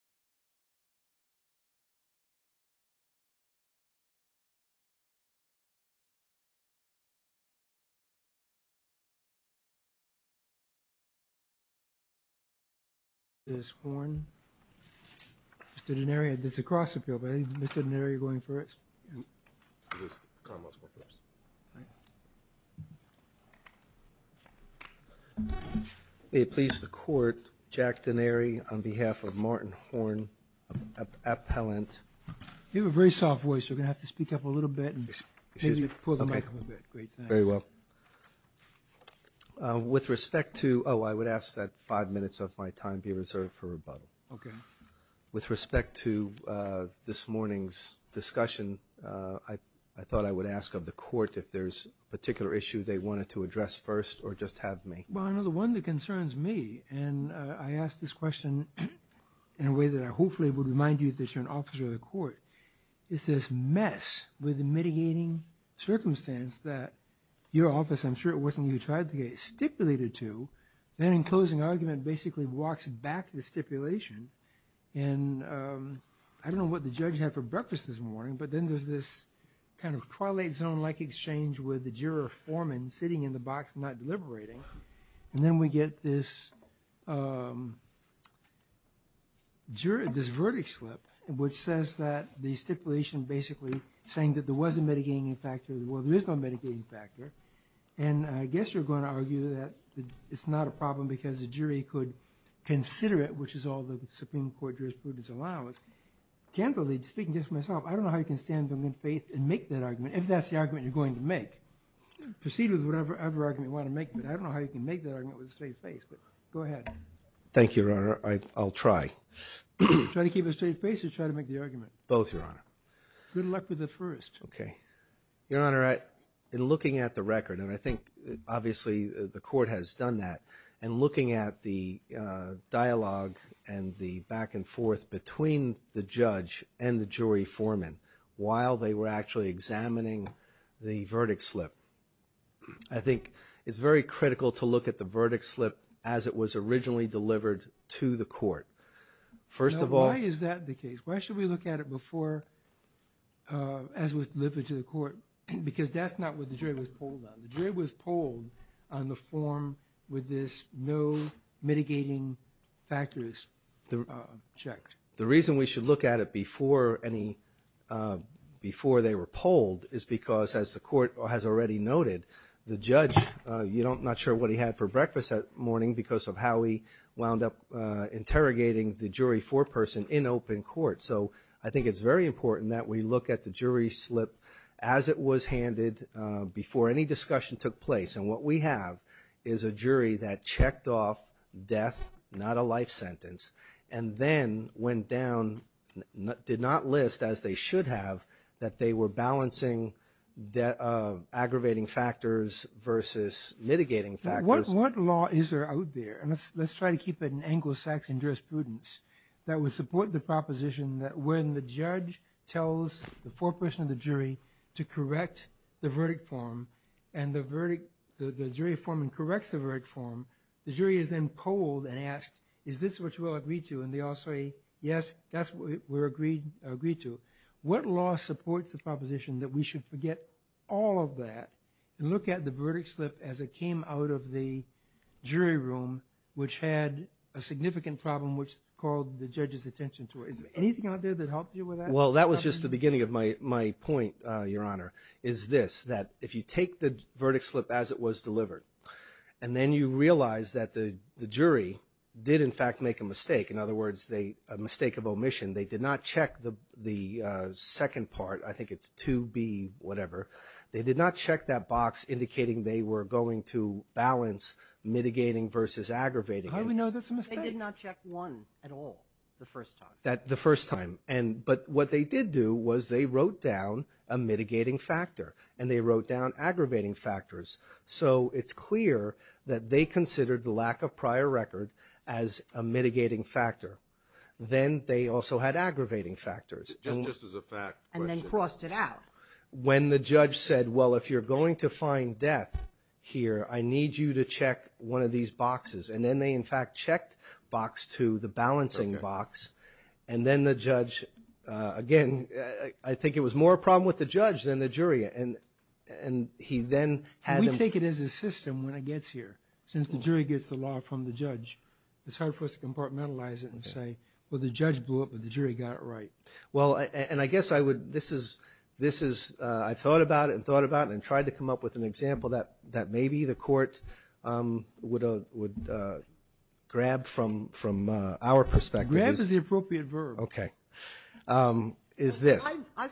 Jack denari on behalf of Martin Hornet Black bear on behalf of Martin Hornet Black bear on behalf of Martin Hornet Black bear on behalf of Martin That I hopefully would remind you that you're an officer of the court. It's this mess with mitigating Circumstance that your office. I'm sure it wasn't you tried to get stipulated to then in closing argument basically walks back to the stipulation and I don't know what the judge had for breakfast this morning But then there's this kind of prolate zone like exchange with the juror foreman sitting in the box not deliberating And then we get this Juror This verdict slip and which says that the stipulation basically saying that there was a mitigating factor well, there is no mitigating factor and I guess you're going to argue that it's not a problem because the jury could Consider it which is all the Supreme Court jurisprudence allowance Candidly speaking just myself. I don't know how you can stand them in faith and make that argument if that's the argument you're going to make Proceed with whatever ever argument want to make but I don't know how you can make that argument with a straight face Go ahead. Thank you, Your Honor. I'll try Trying to keep a straight face to try to make the argument both your honor. Good luck with the first. Okay, Your Honor all right in looking at the record and I think obviously the court has done that and looking at the Dialogue and the back and forth between the judge and the jury foreman while they were actually examining the verdict slip I It was originally delivered to the court First of all, why is that the case? Why should we look at it before? As we live it to the court because that's not what the jury was pulled on the jury was pulled on the form with this No mitigating factors Checked the reason we should look at it before any Before they were polled is because as the court has already noted the judge You don't not sure what he had for breakfast that morning because of how he wound up Interrogating the jury foreperson in open court So I think it's very important that we look at the jury slip as it was handed Before any discussion took place and what we have is a jury that checked off death Not a life sentence and then went down Did not list as they should have that they were balancing That aggravating factors Versus mitigating factors. What law is there out there and let's let's try to keep it in Anglo-Saxon jurisprudence that would support the proposition that when the judge tells the foreperson of the jury to correct the verdict form and The verdict the jury foreman corrects the verdict form The jury is then polled and asked is this what you will agree to and they all say yes That's what we're agreed agreed to what law supports the proposition that we should forget all of that and look at the verdict slip as it came out of the Jury room which had a significant problem which called the judge's attention to it Well, that was just the beginning of my my point Your honor is this that if you take the verdict slip as it was delivered And then you realize that the jury did in fact make a mistake In other words, they a mistake of omission. They did not check the the Second part. I think it's to be whatever they did not check that box indicating they were going to balance Mitigating versus aggravating. I don't know. That's a mistake I did not check one at all the first time that the first time and but what they did do was they wrote down a Mitigating factor and they wrote down aggravating factors So it's clear that they considered the lack of prior record as a mitigating factor Then they also had aggravating factors When the judge said well if you're going to find death here I need you to check one of these boxes and then they in fact checked box to the balancing box and then the judge again, I think it was more a problem with the judge than the jury and and He then had to take it as a system when it gets here since the jury gets the law from the judge It's hard for us to compartmentalize it and say well the judge blew up, but the jury got it, right? Well, and I guess I would this is this is I thought about it and thought about and tried to come up with an example that that maybe the court would Grab from from our perspective is the appropriate verb. Okay Is this I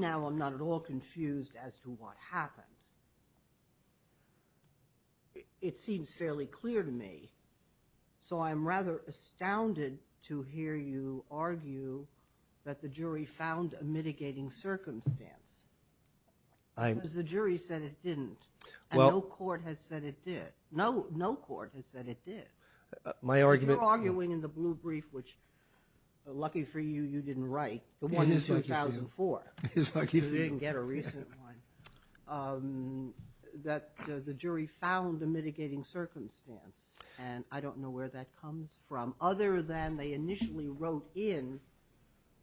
now I'm not at all confused as to what happened It seems fairly clear to me So I'm rather astounded to hear you argue that the jury found a mitigating circumstance I was the jury said it didn't well court has said it did no no court has said it did my argument arguing in the blue brief, which Lucky for you. You didn't write the one is 2004. It's like you didn't get a recent one That the jury found a mitigating circumstance and I don't know where that comes from other than they initially wrote in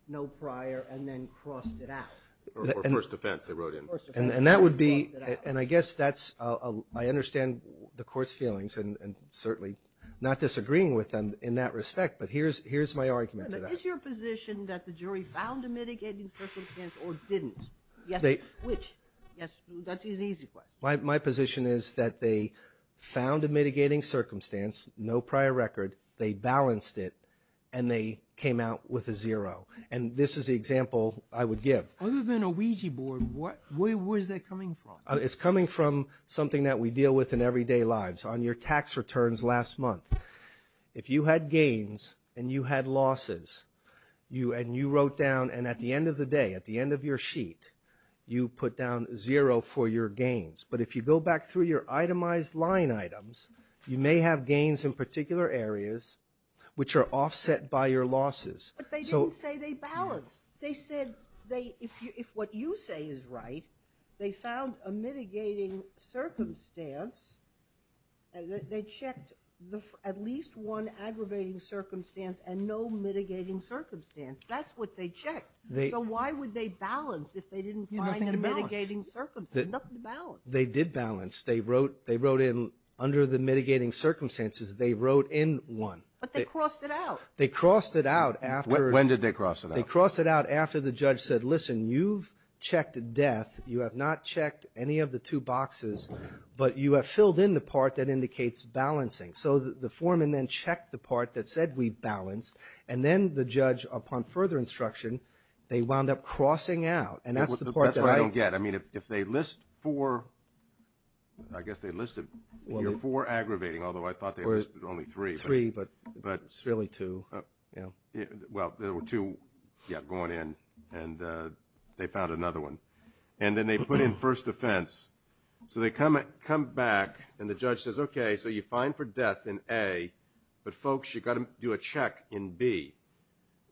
No prior and then crossed it out First offense they wrote in and that would be and I guess that's a I understand the course feelings and certainly Disagreeing with them in that respect, but here's here's my argument My position is that they found a mitigating circumstance no prior record They balanced it and they came out with a zero and this is the example I would give other than a Ouija board What where was that coming from? It's coming from something that we deal with in everyday lives on your tax returns last month if you had gains and you had losses You and you wrote down and at the end of the day at the end of your sheet You put down zero for your gains But if you go back through your itemized line items, you may have gains in particular areas Which are offset by your losses They don't say they balance they said they if what you say is right, they found a mitigating circumstance They checked the at least one aggravating circumstance and no mitigating circumstance. That's what they checked They so why would they balance if they didn't find a mitigating circumstance balance? They did balance they wrote they wrote in under the mitigating circumstances. They wrote in one They crossed it out after when did they cross it? They cross it out after the judge said listen, you've checked death You have not checked any of the two boxes, but you have filled in the part that indicates balancing So the foreman then checked the part that said we balanced and then the judge upon further instruction They wound up crossing out and that's the part that I don't get. I mean if they list for I Really too well, there were two yet going in and They found another one and then they put in first offense So they come and come back and the judge says, okay, so you find for death in a but folks You got to do a check in B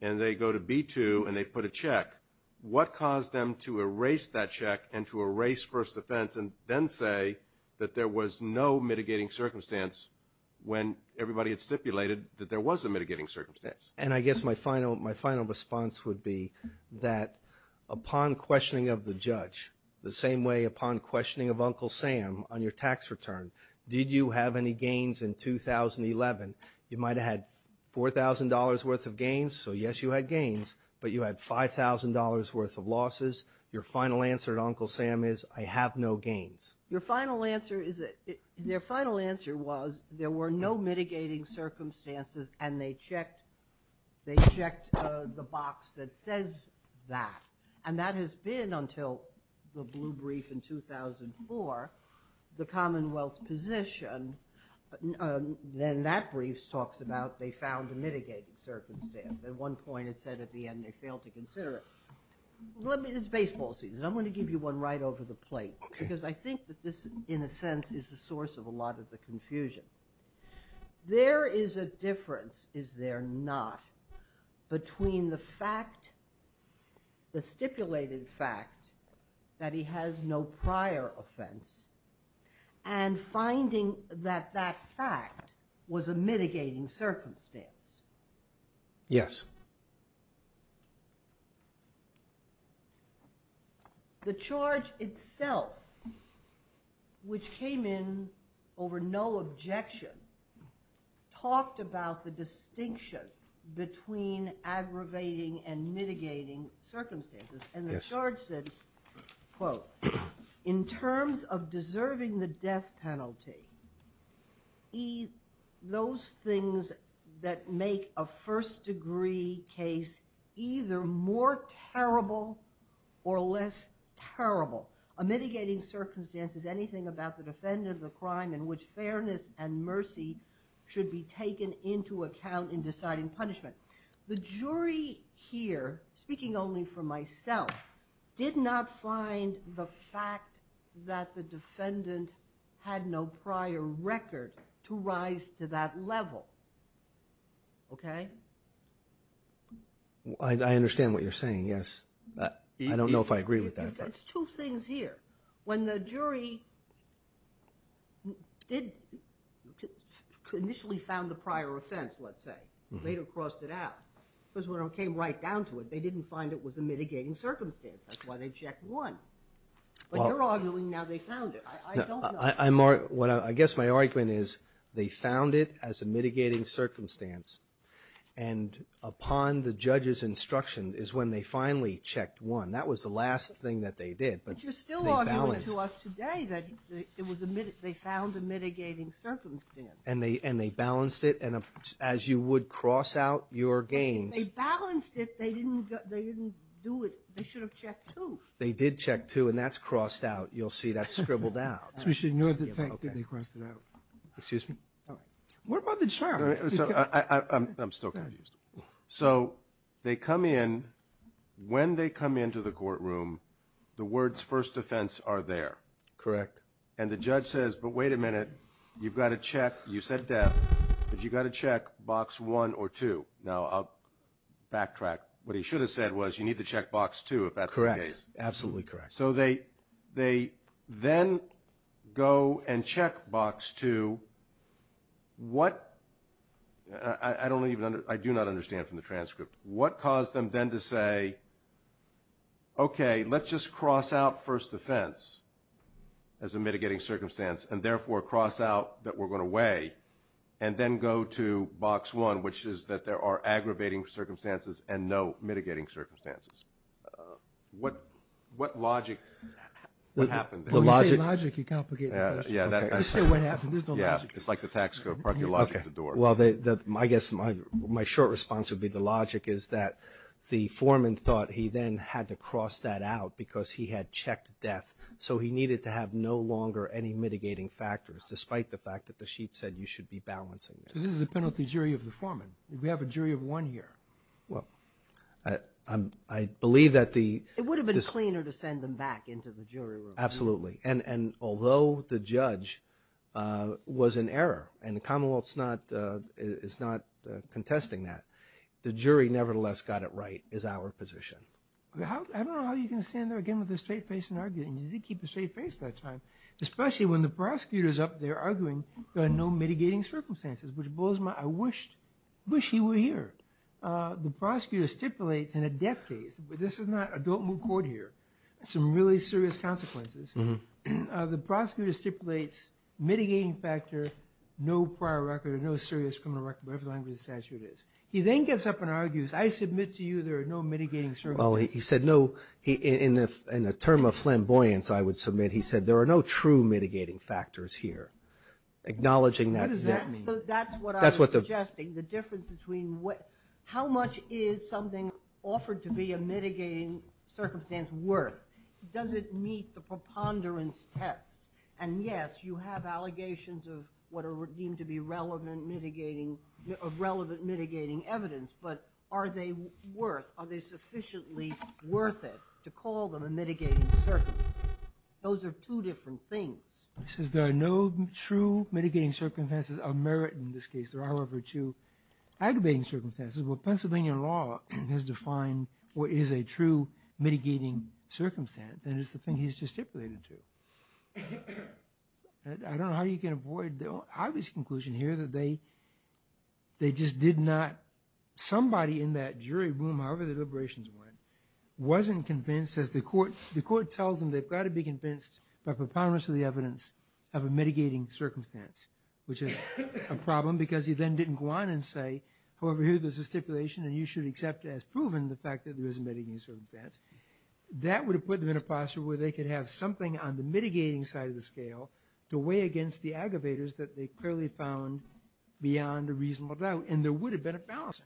and they go to b2 and they put a check What caused them to erase that check and to erase first offense and then say that there was no mitigating circumstance? When everybody had stipulated that there was a mitigating circumstance and I guess my final my final response would be that Upon questioning of the judge the same way upon questioning of Uncle Sam on your tax return. Did you have any gains in? 2011 you might have had $4,000 worth of gains. So yes, you had gains, but you had $5,000 worth of losses your final answer at Uncle Sam is I have no gains Your final answer is it their final answer was there were no mitigating circumstances and they checked They checked the box that says that and that has been until the blue brief in 2004 the Commonwealth's position Then that briefs talks about they found a mitigating circumstance at one point. It said at the end they failed to consider it Baseball season I'm going to give you one right over the plate because I think that this in a sense is the source of a lot of the confusion There is a difference. Is there not? between the fact the stipulated fact that he has no prior offense and Finding that that fact was a mitigating circumstance Yes The charge itself Which came in over no objection talked about the distinction between aggravating and mitigating Circumstances and the charge said quote in terms of deserving the death penalty He those things that make a first degree case either more terrible or less Terrible a mitigating circumstances anything about the defendant of the crime in which fairness and mercy Should be taken into account in deciding punishment the jury here speaking only for myself Did not find the fact that the defendant had no prior record to rise to that level Okay I understand what you're saying. Yes, I don't know if I agree with that. It's two things here when the jury Did Initially found the prior offense let's say later crossed it out because when I came right down to it They didn't find it was a mitigating circumstance. That's why they checked one But you're arguing now they found it. I'm mark what I guess my argument is they found it as a mitigating circumstance and Upon the judge's instruction is when they finally checked one. That was the last thing that they did But you're still our way to us today that it was a minute They found a mitigating circumstance and they and they balanced it and as you would cross out your gains They balanced it. They didn't they didn't do it. They should have checked who they did check two and that's crossed out You'll see that scribbled out. We should know that they crossed it out. Excuse me So I'm still confused so they come in When they come into the courtroom The words first offense are there correct? And the judge says but wait a minute, you've got to check you said death, but you got to check box one or two now I'll Backtrack what he should have said was you need to check box two if that's correct. Absolutely correct. So they they then Go and check box two What I don't even under I do not understand from the transcript what caused them then to say Okay, let's just cross out first offense as a mitigating circumstance and therefore cross out that we're going to weigh and Then go to box one, which is that there are aggravating circumstances and no mitigating circumstances What what logic? What happened the logic? Yeah Okay, well they that my guess my my short response would be the logic is that The foreman thought he then had to cross that out because he had checked death So he needed to have no longer any mitigating factors despite the fact that the sheet said you should be balancing This is a penalty jury of the foreman. We have a jury of one here. Well, I Believe that the it would have been cleaner to send them back into the jury room. Absolutely and and although the judge Was in error and the Commonwealth's not It's not contesting that the jury nevertheless got it. Right is our position Especially when the prosecutors up there arguing there are no mitigating circumstances which blows my I wished wish he were here The prosecutor stipulates in a death case, but this is not a don't move court here. It's some really serious consequences The prosecutor stipulates Mitigating factor no prior record or no serious criminal record. Whatever the statute is. He then gets up and argues I submit to you. There are no mitigating sir. Well, he said no he in the in the term of flamboyance I would submit he said there are no true mitigating factors here Acknowledging that that's what that's what that's what the gesting the difference between what how much is something offered to be a mitigating? Circumstance worth does it meet the preponderance test? And yes, you have allegations of what are deemed to be relevant mitigating of relevant mitigating evidence But are they worth are they sufficiently worth it to call them a mitigating? Those are two different things. This is there are no true mitigating circumstances of merit in this case. There are over to Aggravating circumstances. Well, Pennsylvania law has defined what is a true mitigating circumstance and it's the thing. He's just stipulated to I don't know how you can avoid the obvious conclusion here that they They just did not Somebody in that jury room. However, the deliberations went Wasn't convinced as the court the court tells them they've got to be convinced by preponderance of the evidence of a mitigating circumstance Which is a problem because he then didn't go on and say however here There's a stipulation and you should accept as proven the fact that there is a mitigating circumstance That would have put them in a posture where they could have something on the mitigating side of the scale To weigh against the aggravators that they clearly found Beyond a reasonable doubt and there would have been a balancing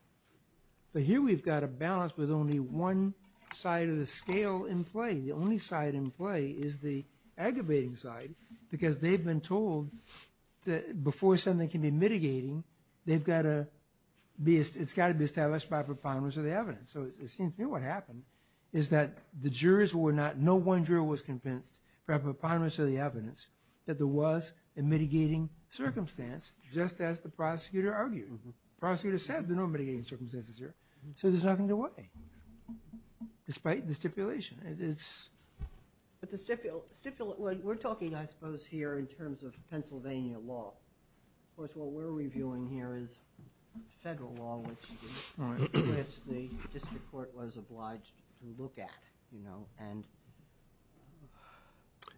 But here we've got a balance with only one side of the scale in play The only side in play is the aggravating side because they've been told That before something can be mitigating they've got a Beast it's got to be established by preponderance of the evidence So it seems to me what happened is that the jurors were not no one drew was convinced Preponderance of the evidence that there was a mitigating Circumstance just as the prosecutor argued prosecutor said the normating circumstances here. So there's nothing to weigh despite the stipulation it's But the stipulate we're talking I suppose here in terms of Pennsylvania law, of course, what we're reviewing here is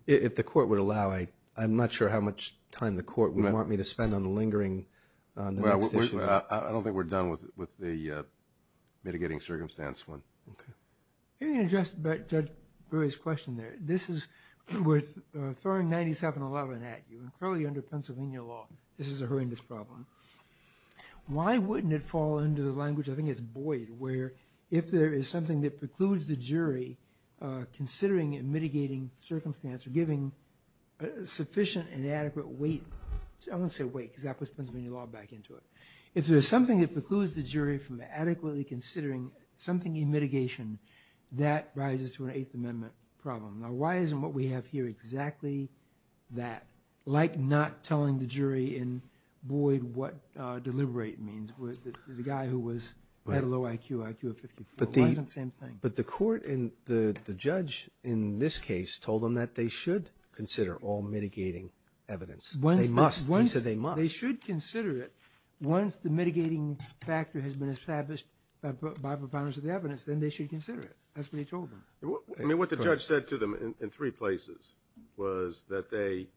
If the court would allow I I'm not sure how much time the court would want me to spend on lingering I don't think we're done with with the Various question there. This is worth throwing 9711 at you and curly under Pennsylvania law. This is a horrendous problem Why wouldn't it fall into the language? I think it's boyd where if there is something that precludes the jury considering and mitigating circumstance or giving sufficient and adequate weight I'm gonna say wait because that was Pennsylvania law back into it if there's something that precludes the jury from adequately considering Something in mitigation that rises to an Eighth Amendment problem. Now, why isn't what we have here exactly? that like not telling the jury in Boyd what Deliberate means with the guy who was at a low IQ IQ of 50 But the same thing but the court in the the judge in this case told them that they should consider all mitigating Evidence when they must once they must they should consider it once the mitigating factor has been established By the balance of the evidence then they should consider it. That's what he told me I mean what the judge said to them in three places was that they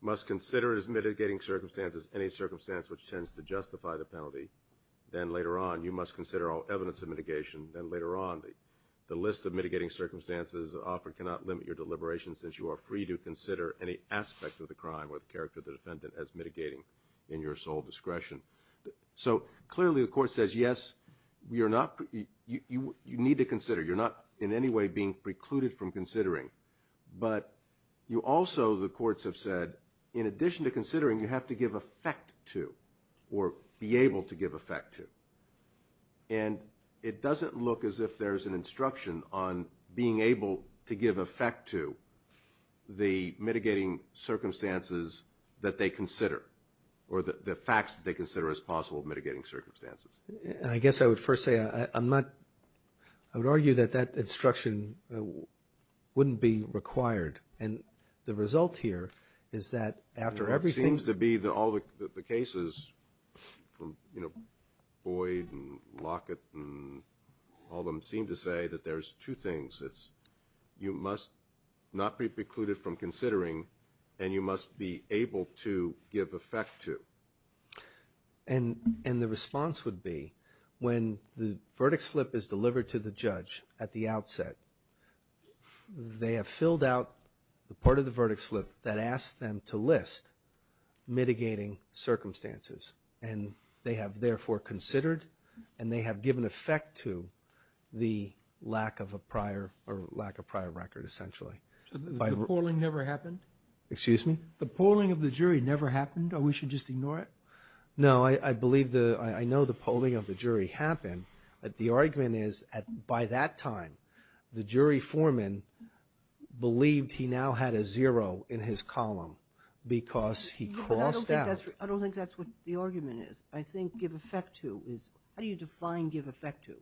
Must consider as mitigating circumstances any circumstance which tends to justify the penalty Then later on you must consider all evidence of mitigation then later on the the list of mitigating circumstances Offered cannot limit your deliberation since you are free to consider any aspect of the crime or the character of the defendant as mitigating in your sole discretion So clearly the court says yes, we are not you you need to consider you're not in any way being precluded from considering But you also the courts have said in addition to considering you have to give effect to or be able to give effect to and It doesn't look as if there's an instruction on being able to give effect to the mitigating Circumstances that they consider or the the facts that they consider as possible mitigating circumstances And I guess I would first say I'm not I would argue that that instruction Wouldn't be required and the result here. Is that after everything's to be the all the cases From you know Boyd and Lockett All them seem to say that there's two things. It's you must not be precluded from considering and you must be able to give effect to And and the response would be when the verdict slip is delivered to the judge at the outset They have filled out the part of the verdict slip that asked them to list mitigating circumstances and they have therefore considered and they have given effect to The lack of a prior or lack of prior record essentially Polling never happened. Excuse me. The polling of the jury never happened. Oh, we should just ignore it No, I believe the I know the polling of the jury happened at the argument is at by that time the jury foreman Believed he now had a zero in his column because he crossed out I don't think that's what the argument is. I think give effect to is how do you define give effect to?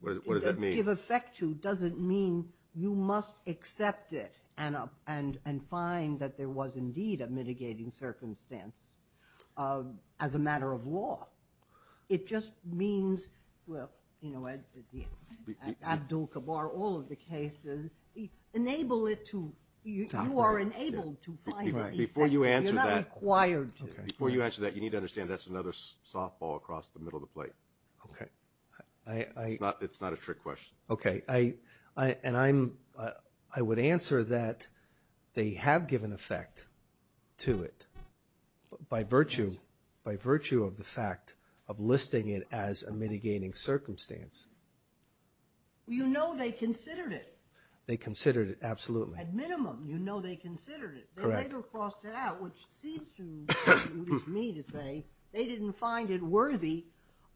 What does that mean give effect to doesn't mean you must accept it and up and and find that there was indeed a mitigating circumstance as a matter of law It just means well, you know Abdul-kabar all of the cases Enable it to you are enabled to find right before you answer that wired Before you answer that you need to understand that's another softball across the middle of the plate. Okay It's not a trick question. Okay, I I and I'm I would answer that They have given effect to it By virtue by virtue of the fact of listing it as a mitigating circumstance You know, they considered it. They considered it. Absolutely Minimum, you know, they considered it They didn't find it worthy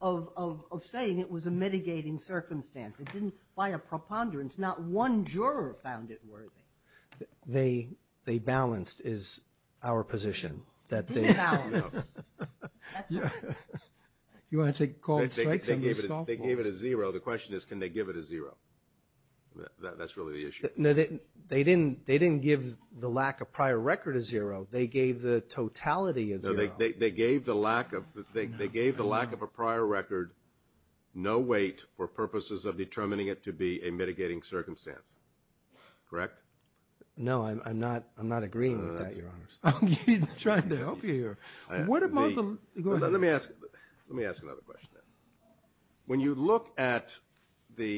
of Saying it was a mitigating circumstance. It didn't buy a preponderance not one juror found it worthy They they balanced is our position that they You want to take call they gave it a zero the question is can they give it a zero That's really the issue. No, they didn't they didn't give the lack of prior record is zero They gave the totality of they gave the lack of the thing. They gave the lack of a prior record No, wait for purposes of determining it to be a mitigating circumstance Correct. No, I'm not. I'm not agreeing Let me ask let me ask another question when you look at the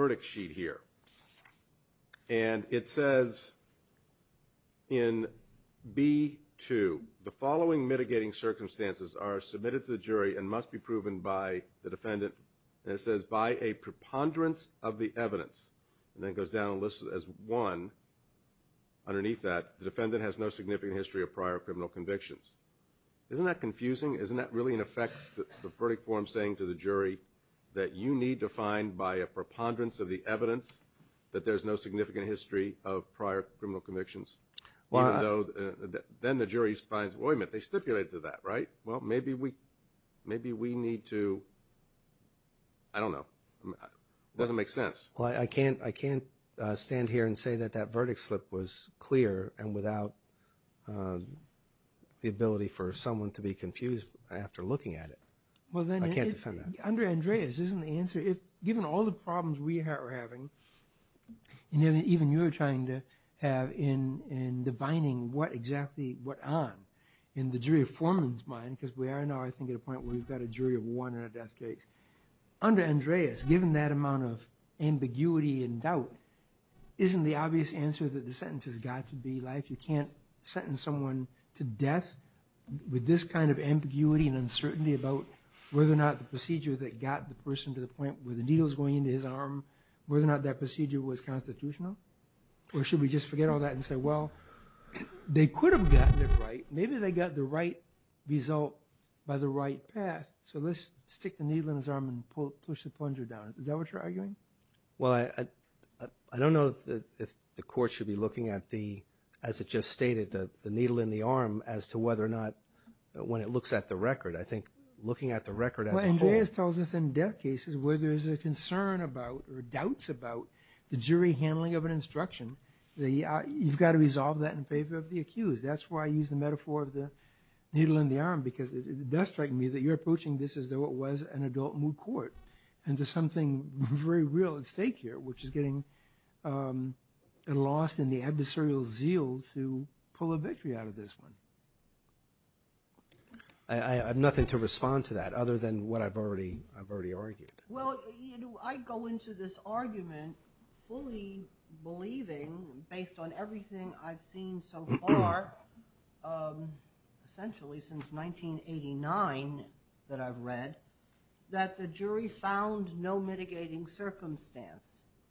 Verdict sheet here and it says in B to the following mitigating circumstances are submitted to the jury and must be proven by the defendant And it says by a preponderance of the evidence and then goes down a list as one Underneath that the defendant has no significant history of prior criminal convictions Isn't that confusing isn't that really in effect the verdict form saying to the jury that you need to find by a preponderance of the evidence That there's no significant history of prior criminal convictions. Well, I know Then the jury's finds boy meant they stipulate to that right? Well, maybe we maybe we need to I Don't know Doesn't make sense. Well, I can't I can't stand here and say that that verdict slip was clear and without The Ability for someone to be confused after looking at it Well, then I can't defend under Andreas isn't the answer if given all the problems we are having and even you're trying to have in in Divining what exactly what on in the jury of foreman's mind because we are now I think at a point where we've got a jury of one or a death case under Andreas given that amount of ambiguity and doubt Isn't the obvious answer that the sentence has got to be life you can't sentence someone to death With this kind of ambiguity and uncertainty about whether or not the procedure that got the person to the point where the needle is going Into his arm whether or not that procedure was constitutional or should we just forget all that and say well They could have gotten it, right? Maybe they got the right result by the right path So let's stick the needle in his arm and pull push the plunger down. Is that what you're arguing? Well, I Don't know if the court should be looking at the as it just stated that the needle in the arm as to whether or not When it looks at the record, I think looking at the record as well Andreas tells us in death cases where there's a concern about or doubts about the jury handling of an instruction the you've got to resolve that in favor of the accused that's why I use the metaphor of the Needle in the arm because it does strike me that you're approaching This as though it was an adult moot court and there's something very real at stake here, which is getting Lost in the adversarial zeal to pull a victory out of this one. I Have nothing to respond to that other than what I've already I've already argued. Well, I go into this argument fully Believing based on everything I've seen so far Essentially since 1989 that I've read that the jury found no mitigating Circumstance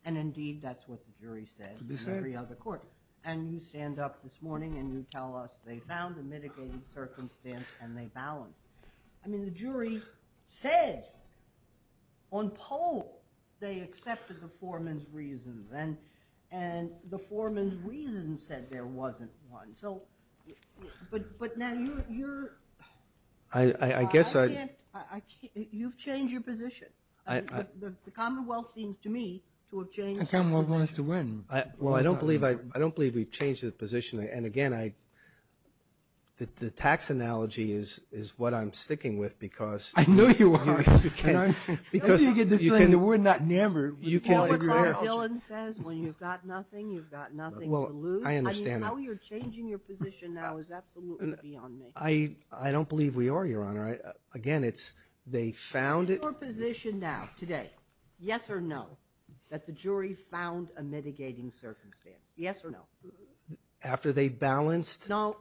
and indeed, that's what the jury said This is every other court and you stand up this morning and you tell us they found the mitigating Circumstance and they balance. I mean the jury said on poll they accepted the foreman's reasons and and the foreman's reason said there wasn't one so I guess I You've changed your position. I Commonwealth seems to me to have changed and come was wants to win. I well, I don't believe I don't believe we've changed the position and again, I That the tax analogy is is what I'm sticking with because I know you are Because you get the kind of we're not never you can Says when you've got nothing you've got nothing. Well, I understand I I don't believe we are your honor. I again, it's they found it position now today Yes, or no that the jury found a mitigating circumstance. Yes or no After they balanced no,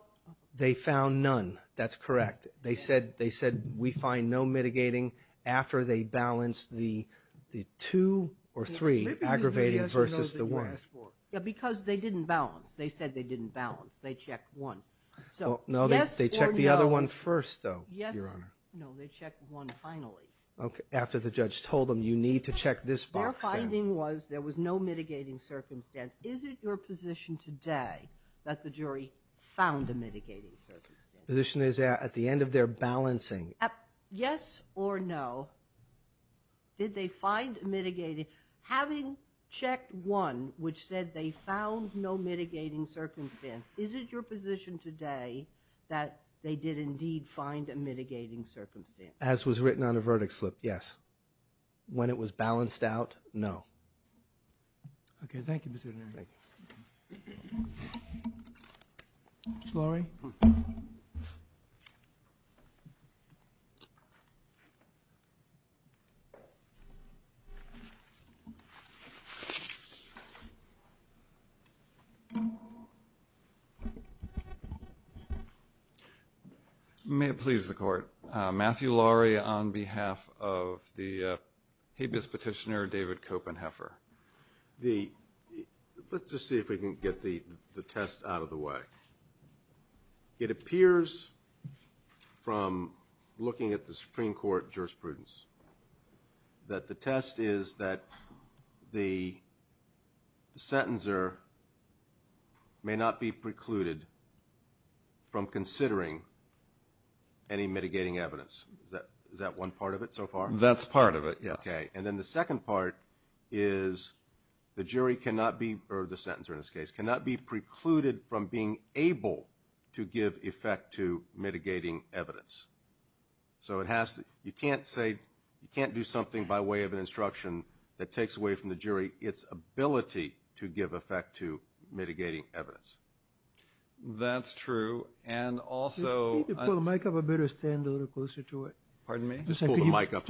they found none. That's correct They said they said we find no mitigating after they balanced the the two or three Aggravated versus the worst. Yeah, because they didn't balance they said they didn't balance they checked one So no, they checked the other one first though. Yes Okay after the judge told them you need to check this box finding was there was no mitigating circumstance Is it your position today that the jury found a mitigating? Position is at the end of their balancing. Yep. Yes or no Did they find mitigating having checked one which said they found no mitigating circumstance? Is it your position today that they did indeed find a mitigating circumstance as was written on a verdict slip? Yes When it was balanced out, no Okay, thank you Laurie I May have pleased the court Matthew Laurie on behalf of the habeas petitioner David Copenheffer the Let's just see if we can get the the test out of the way it appears from looking at the Supreme Court jurisprudence that the test is that the Sentencer May not be precluded from considering Any mitigating evidence that is that one part of it so far? That's part of it. Okay, and then the second part is The jury cannot be or the sentence or in this case cannot be precluded from being able to give effect to mitigating evidence So it has to you can't say you can't do something by way of an instruction that takes away from the jury its Ability to give effect to mitigating evidence That's true. And also Make up a better stand a little closer to it. Pardon me. Just pull the mic up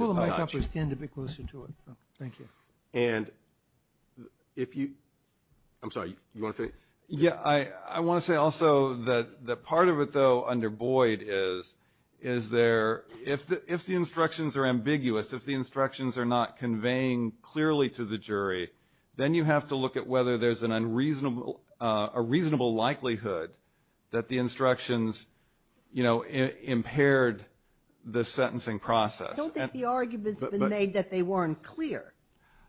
Just stand a bit closer to it. Thank you. And if you I'm sorry you want to yeah I I want to say also that that part of it though under Boyd is is There if the if the instructions are ambiguous if the instructions are not conveying clearly to the jury Then you have to look at whether there's an unreasonable a reasonable likelihood that the instructions You know impaired the sentencing process Made that they weren't clear.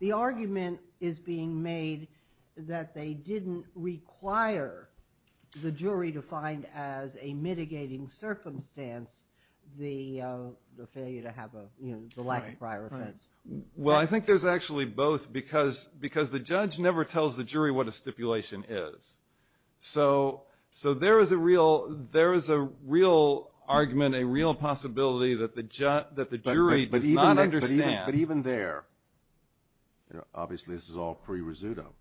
The argument is being made that they didn't require the jury to find as a mitigating circumstance the Failure to have a you know, the lack of prior offense Well, I think there's actually both because because the judge never tells the jury what a stipulation is So so there is a real there is a real Argument a real possibility that the judge that the jury but he's not understand but even there You know, obviously this is all pre risotto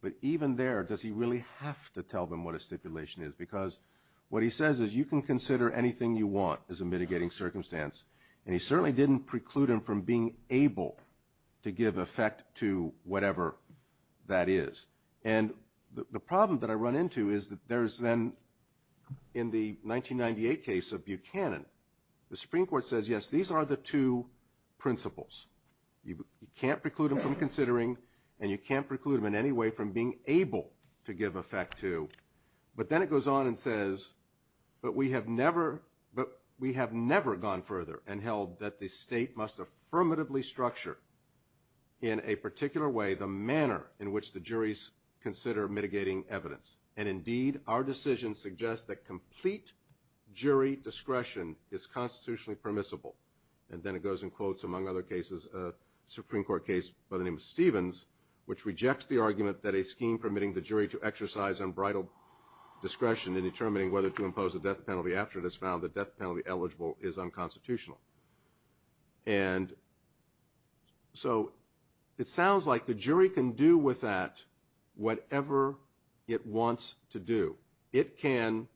but even there does he really have to tell them what a stipulation is because What he says is you can consider anything you want as a mitigating circumstance And he certainly didn't preclude him from being able to give effect to whatever that is and The problem that I run into is that there's then in the 1998 case of Buchanan the Supreme Court says yes These are the two principles You can't preclude him from considering and you can't preclude him in any way from being able to give effect to But then it goes on and says But we have never but we have never gone further and held that the state must affirmatively structure in A particular way the manner in which the juries consider mitigating evidence and indeed our decision suggests that complete jury discretion is constitutionally permissible and then it goes in quotes among other cases a Supreme Court case by the name of Stevens which rejects the argument that a scheme permitting the jury to exercise unbridled Discretion in determining whether to impose a death penalty after it has found that death penalty eligible is unconstitutional and So it sounds like the jury can do with that Whatever it wants to do it can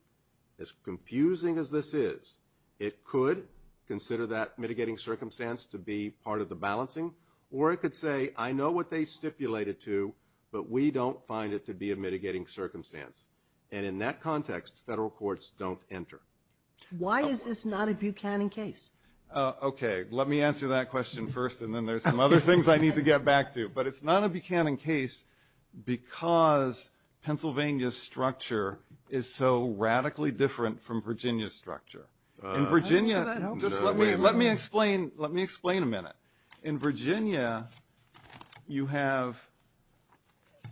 as confusing as this is it could Consider that mitigating circumstance to be part of the balancing or it could say I know what they stipulated to But we don't find it to be a mitigating circumstance And in that context federal courts don't enter Why is this not a Buchanan case? Okay, let me answer that question first and then there's some other things I need to get back to but it's not a Buchanan case because Pennsylvania's structure is so radically different from Virginia's structure in Virginia Let me explain. Let me explain a minute in Virginia you have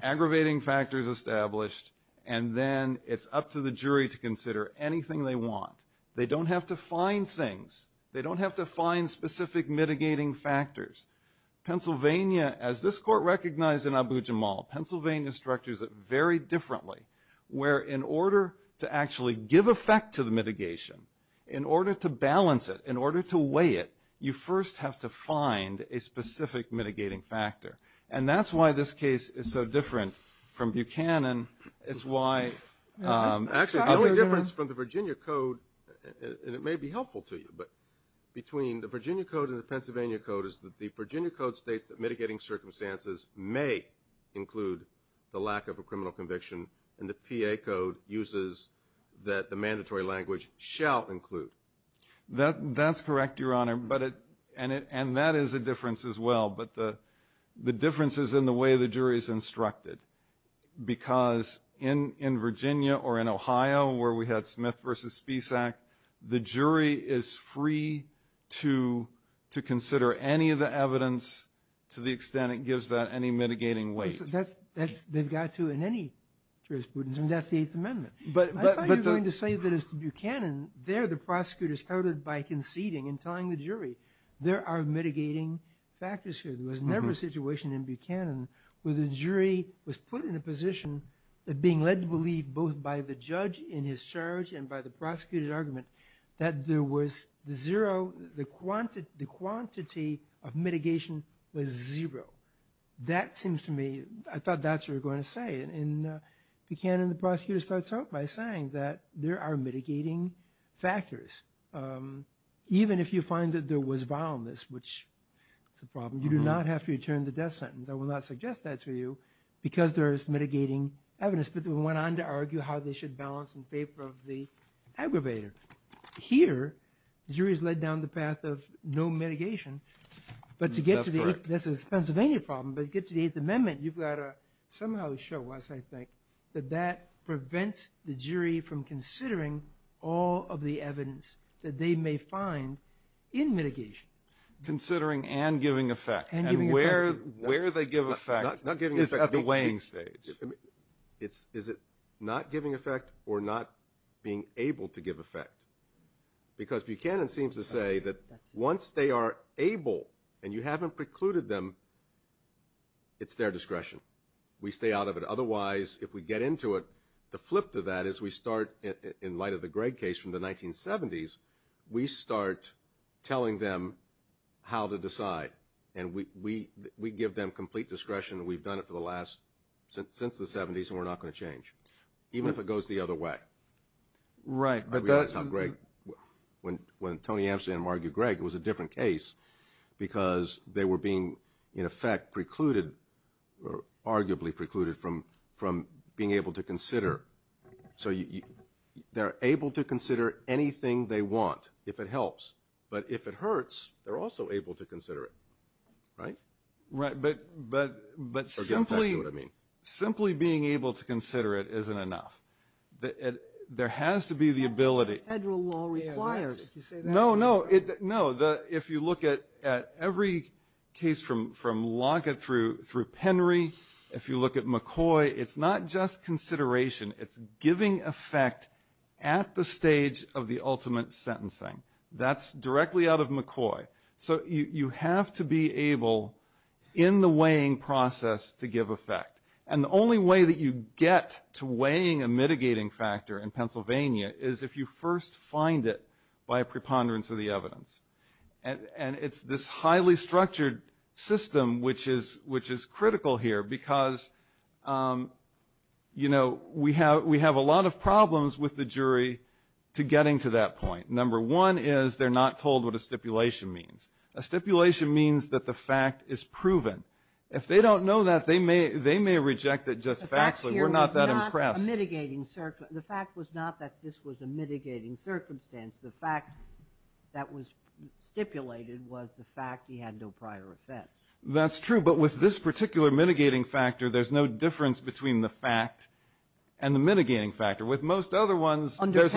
Aggravating factors established and then it's up to the jury to consider anything they want They don't have to find things. They don't have to find specific mitigating factors Pennsylvania as this court recognized in Abu Jamal, Pennsylvania structures that very differently Where in order to actually give effect to the mitigation in order to balance it in order to weigh it You first have to find a specific mitigating factor and that's why this case is so different from Buchanan it's why actually the only difference from the Virginia Code and it may be helpful to you but Between the Virginia Code and the Pennsylvania Code is that the Virginia Code states that mitigating circumstances may Include the lack of a criminal conviction and the PA code uses that the mandatory language shall include That that's correct your honor, but it and it and that is a difference as well But the the difference is in the way the jury is instructed Because in in Virginia or in Ohio where we had Smith versus Spisak, the jury is free To to consider any of the evidence to the extent it gives that any mitigating weight That's that's they've got to in any jurisprudence. I mean, that's the Eighth Amendment But I'm going to say that as to Buchanan there the prosecutors started by conceding and telling the jury there are mitigating Factors here. There was never a situation in Buchanan where the jury was put in a position that being led to believe both by the judge in his charge and by the Prosecuted argument that there was the zero the quantity the quantity of mitigation was zero That seems to me. I thought that's we're going to say in Buchanan the prosecutor starts out by saying that there are mitigating factors Even if you find that there was violence, which it's a problem. You do not have to return the death sentence I will not suggest that to you because there's mitigating evidence, but they went on to argue how they should balance in favor of the aggravator Here jury's led down the path of no mitigation But to get to this is Pennsylvania problem, but get to the Eighth Amendment you've got a somehow show us I think that that prevents the jury from considering all of the evidence that they may find in mitigation Considering and giving effect anywhere where they give a fact not giving is at the weighing stage It's is it not giving effect or not being able to give effect Because Buchanan seems to say that once they are able and you haven't precluded them It's their discretion We stay out of it Otherwise if we get into it the flip to that is we start in light of the Greg case from the 1970s we start Telling them how to decide and we we we give them complete discretion We've done it for the last since the 70s and we're not going to change even if it goes the other way Right, but that's not great When when Tony Amsterdam argued Greg it was a different case Because they were being in effect precluded Arguably precluded from from being able to consider so you They're able to consider anything they want if it helps, but if it hurts they're also able to consider it Right right, but but but simply what I mean simply being able to consider it isn't enough That there has to be the ability No, no it no the if you look at at every case from from log it through through Penry If you look at McCoy, it's not just consideration It's giving effect at the stage of the ultimate sentencing. That's directly out of McCoy so you you have to be able in the weighing process to give effect and the only way that you get to weighing a mitigating factor in Pennsylvania is if you first find it by a preponderance of the evidence and And it's this highly structured system, which is which is critical here because You know we have we have a lot of problems with the jury to getting to that point number one is they're not told what a stipulation means a Stipulation means that the fact is proven if they don't know that they may they may reject it just actually we're not that impressed Mitigating circle the fact was not that this was a mitigating circumstance the fact that was Stipulated was the fact he had no prior offense. That's true, but with this particular mitigating factor There's no difference between the fact and the mitigating factor with most other ones under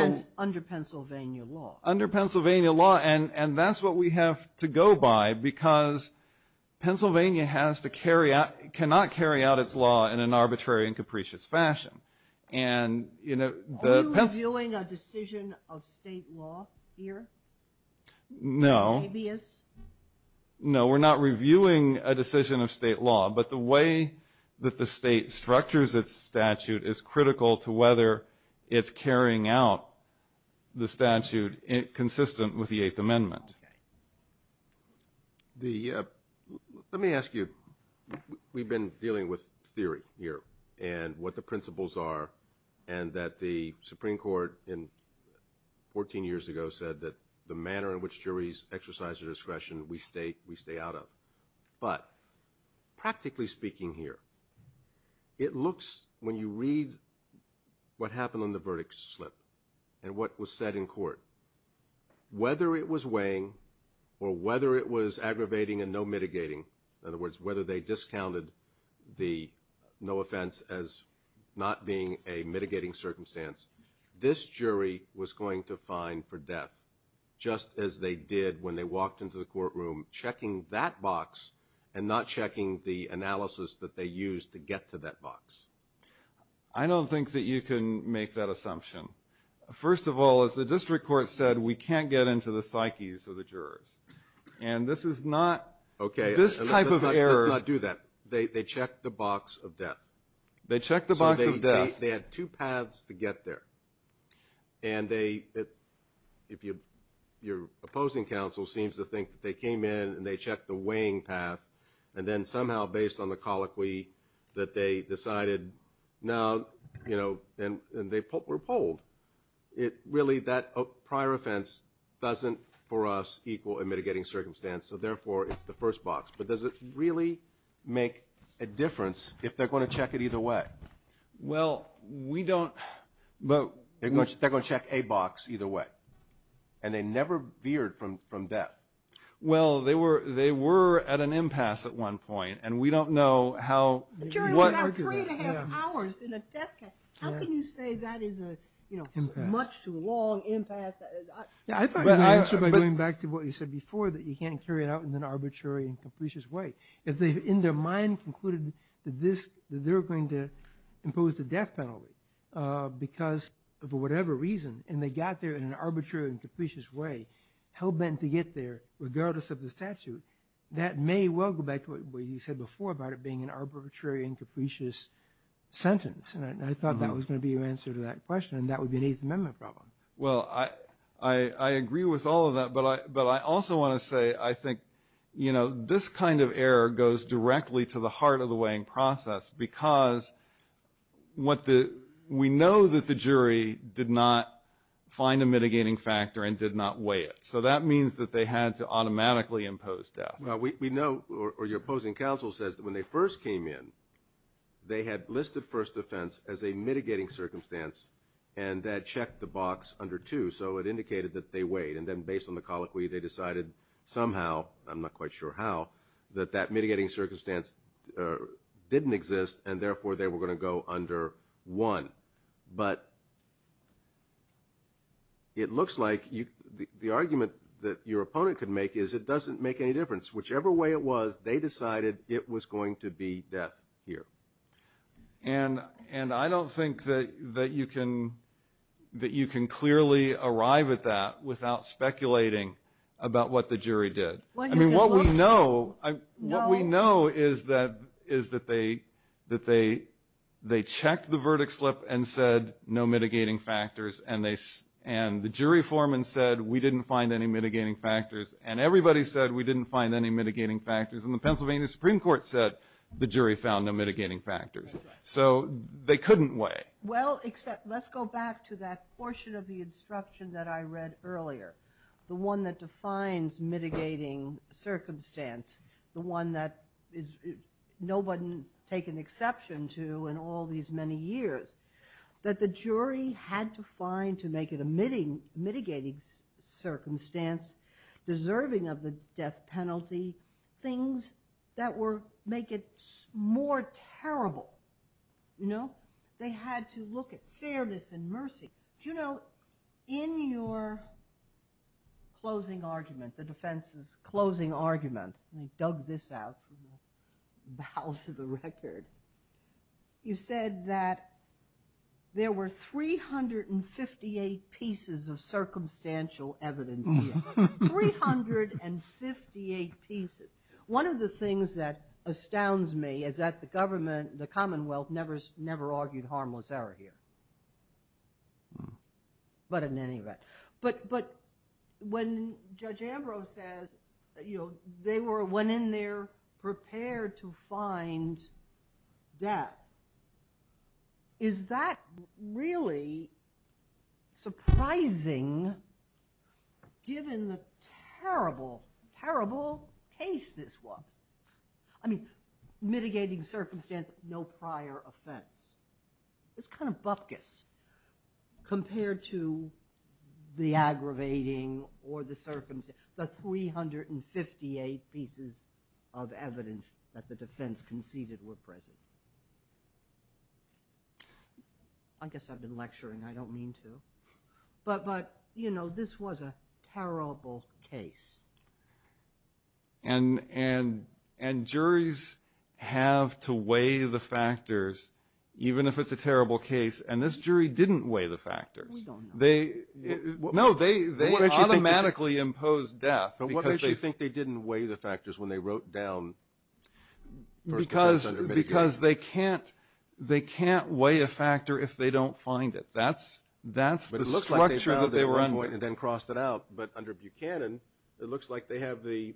Pennsylvania law under Pennsylvania law and and that's what we have to go by because Pennsylvania has to carry out cannot carry out its law in an arbitrary and capricious fashion and you know No No, we're not reviewing a decision of state law But the way that the state structures its statute is critical to whether it's carrying out the statute consistent with the Eighth Amendment The Let me ask you We've been dealing with theory here and what the principles are and that the Supreme Court in 14 years ago said that the manner in which juries exercise their discretion we state we stay out of but practically speaking here It looks when you read What happened on the verdict slip and what was said in court? Whether it was weighing or whether it was aggravating and no mitigating in other words whether they discounted the no offense as Not being a mitigating circumstance. This jury was going to find for death just as they did when they walked into the courtroom checking that box and not checking the Analysis that they used to get to that box. I Can't get into the psyches of the jurors and this is not okay this type of error not do that They check the box of death. They check the box of death. They had two paths to get there and they if you You're opposing counsel seems to think that they came in and they checked the weighing path and then somehow based on the colloquy That they decided now, you know, and and they were polled Really that prior offense doesn't for us equal and mitigating circumstance So therefore it's the first box, but does it really make a difference if they're going to check it either way? well, we don't but they're going to check a box either way and They never veered from from death. Well, they were they were at an impasse at one point and we don't know how Long impasse Yeah I thought I should be going back to what you said before that you can't carry it out in an arbitrary and capricious way if They've in their mind concluded that this that they're going to impose the death penalty Because for whatever reason and they got there in an arbitrary and capricious way Hell-bent to get there regardless of the statute that may well go back to what you said before about it being an arbitrary and capricious Sentence and I thought that was going to be your answer to that question and that would be an eighth amendment problem well, I I Agree with all of that but I but I also want to say I think you know this kind of error goes directly to the heart of the weighing process because What the we know that the jury did not? Find a mitigating factor and did not weigh it. So that means that they had to automatically impose death No, we know or your opposing counsel says that when they first came in They had listed first offense as a mitigating circumstance and that checked the box under two So it indicated that they weighed and then based on the colloquy they decided somehow I'm not quite sure how that that mitigating circumstance Didn't exist and therefore they were going to go under one but It looks like you the argument that your opponent could make is it doesn't make any difference whichever way it was they decided it was going to be death here and And I don't think that that you can That you can clearly arrive at that without speculating about what the jury did I mean what we know I know we know is that is that they that they They checked the verdict slip and said no mitigating factors and they and the jury foreman said we didn't find any mitigating factors and everybody said we didn't find any mitigating factors and the The jury found no mitigating factors, so they couldn't weigh well Except let's go back to that portion of the instruction that I read earlier the one that defines mitigating circumstance the one that is Nobody take an exception to in all these many years That the jury had to find to make it a meeting mitigating circumstance Deserving of the death penalty Things that were make it more terrible You know they had to look at fairness and mercy. Do you know in your Closing argument the defense's closing argument. They dug this out bow to the record you said that there were 358 pieces of circumstantial evidence 358 pieces One of the things that astounds me is that the government the Commonwealth never never argued harmless error here But in any event but but when Judge Ambrose says you know they were went in there prepared to find death Is that really? Surprising Given the terrible terrible case this was I mean Mitigating circumstance no prior offense It's kind of bupkis compared to the aggravating or the circumstance the 358 pieces of evidence that the defense conceded were present I Guess I've been lecturing I don't mean to But but you know this was a terrible case and And and juries Have to weigh the factors even if it's a terrible case and this jury didn't weigh the factors they Know they they automatically imposed death, but what if you think they didn't weigh the factors when they wrote down Because because they can't they can't weigh a factor if they don't find it That's that's the structure that they were on went and then crossed it out, but under Buchanan. It looks like they have the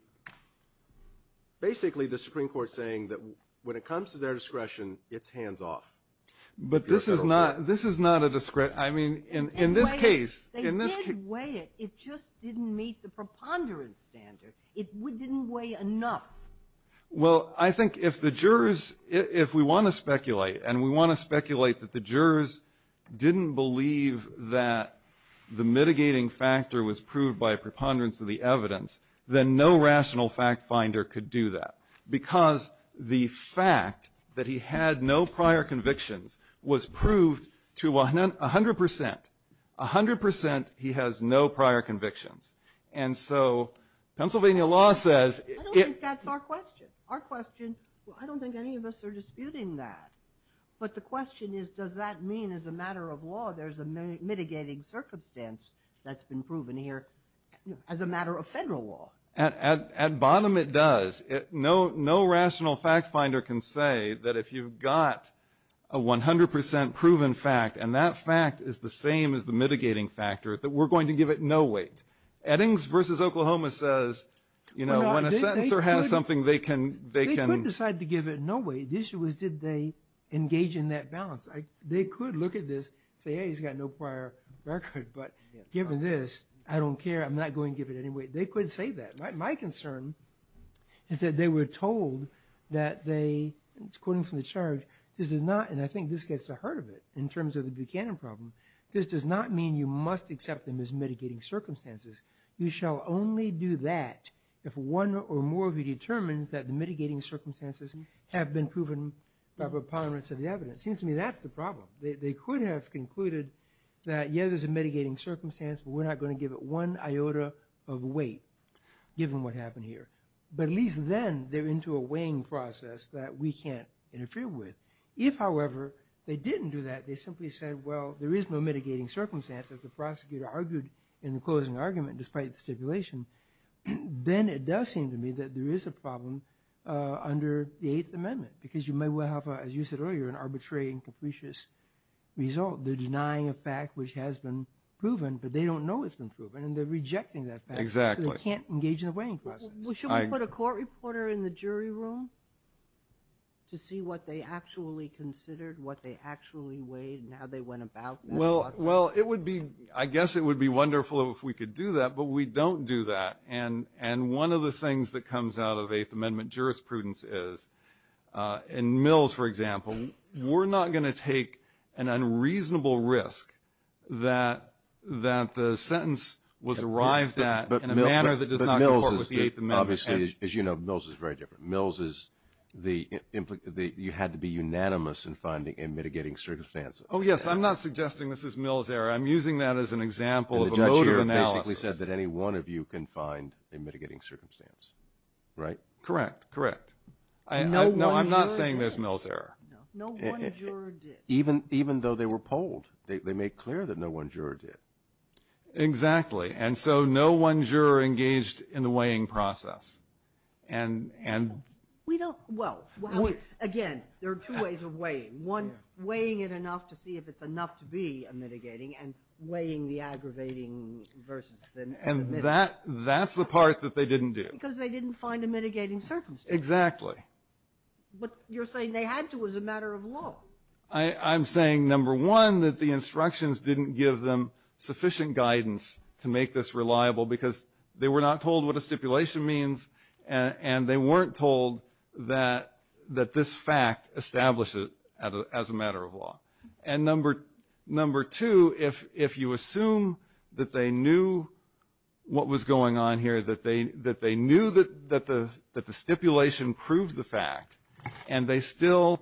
Basically the Supreme Court saying that when it comes to their discretion its hands off But this is not this is not a discretion. I mean in in this case in this way it It just didn't meet the preponderance standard it would didn't weigh enough Well, I think if the jurors if we want to speculate and we want to speculate that the jurors didn't believe that The mitigating factor was proved by a preponderance of the evidence then no rational fact finder could do that Because the fact that he had no prior convictions was proved to one hundred percent a hundred percent he has no prior convictions and so Pennsylvania law says Our question I don't think any of us are disputing that But the question is does that mean as a matter of law? There's a mitigating circumstance that's been proven here as a matter of federal law at bottom it does it no no rational fact finder can say that if you've got a 100% proven fact and that fact is the same as the mitigating factor that we're going to give it no weight Eddings versus Oklahoma says, you know when a sentencer has something they can they can decide to give it no way the issue was did they Engage in that balance like they could look at this say he's got no prior record But given this I don't care. I'm not going to give it anyway. They couldn't say that my concern Is that they were told that they it's quoting from the church This is not and I think this gets the hurt of it in terms of the Buchanan problem This does not mean you must accept them as mitigating circumstances You shall only do that if one or more of you determines that the mitigating circumstances have been proven Repugnance of the evidence seems to me. That's the problem. They could have concluded that yeah, there's a mitigating circumstance We're not going to give it one iota of weight Given what happened here, but at least then they're into a weighing process that we can't interfere with if however They didn't do that. They simply said well, there is no mitigating circumstances. The prosecutor argued in the closing argument despite the stipulation Then it does seem to me that there is a problem Under the Eighth Amendment because you may well have as you said earlier an arbitrary and capricious Result the denying a fact which has been proven, but they don't know it's been proven and they're rejecting that exactly I can't engage in the weighing process. We should put a court reporter in the jury room To see what they actually considered what they actually weighed and how they went about well Well, it would be I guess it would be wonderful if we could do that But we don't do that and and one of the things that comes out of Eighth Amendment jurisprudence is In Mills, for example, we're not going to take an unreasonable risk that That the sentence was arrived at but in a manner that does not know Obviously, as you know Mills is very different Mills is the The you had to be unanimous in finding in mitigating circumstances. Oh, yes. I'm not suggesting. This is Mills error I'm using that as an example of the judge here basically said that any one of you can find a mitigating circumstance Right, correct, correct. I know I'm not saying this Mills error Even even though they were polled they made clear that no one juror did Exactly and so no one juror engaged in the weighing process and and we don't well Again, there are two ways of weighing one weighing it enough to see if it's enough to be a mitigating and weighing the aggravating And that that's the part that they didn't do because they didn't find a mitigating circumstance exactly But you're saying they had to as a matter of law I'm saying number one that the instructions didn't give them sufficient guidance to make this reliable because they were not told what a stipulation means and They weren't told that That this fact established it as a matter of law and number number two If if you assume that they knew what was going on here that they that they knew that that the that the stipulation proved the fact and they still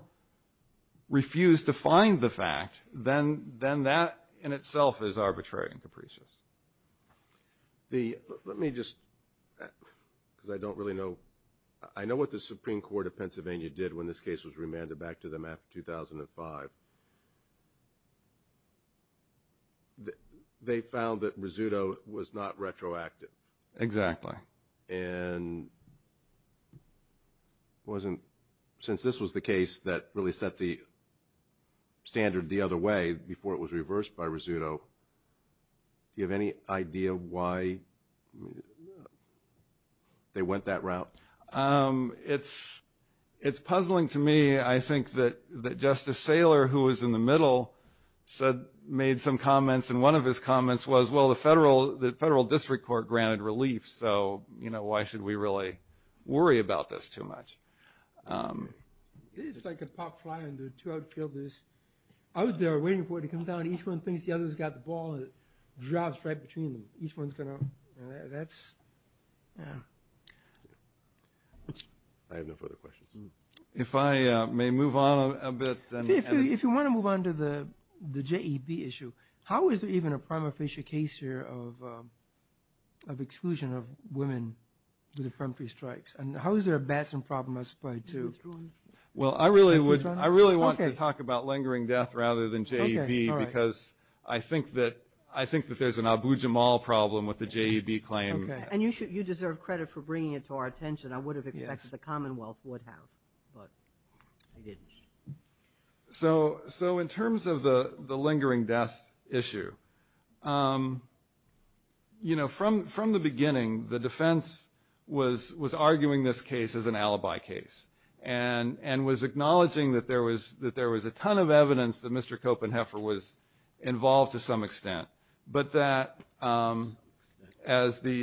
Refuse to find the fact then then that in itself is arbitrary and capricious the let me just Because I don't really know. I know what the Supreme Court of Pennsylvania did when this case was remanded back to them after 2005 That they found that risotto was not retroactive exactly and It wasn't since this was the case that really set the Standard the other way before it was reversed by risotto Do you have any idea why? They went that route it's It's puzzling to me. I think that that justice Saylor who was in the middle Said made some comments and one of his comments was well the federal the federal district court granted relief So, you know, why should we really worry about this too much? Out there waiting for it to come down each one thinks the others got the ball drops right between them each one's gonna that's If I may move on a bit if you want to move on to the the JEP issue how is there even a prima facie case here of Of exclusion of women with a premature strikes and how is there a Batson problem as played to? Well, I really would I really want to talk about lingering death rather than JV because I think that I think that there's an abu Jamal problem with the JV claim and you should you deserve credit for bringing it to our attention I would have expected the Commonwealth would have So so in terms of the the lingering death issue you know from from the beginning the defense was was arguing this case as an alibi case and And was acknowledging that there was that there was a ton of evidence that mr. Copenheffer was involved to some extent, but that as the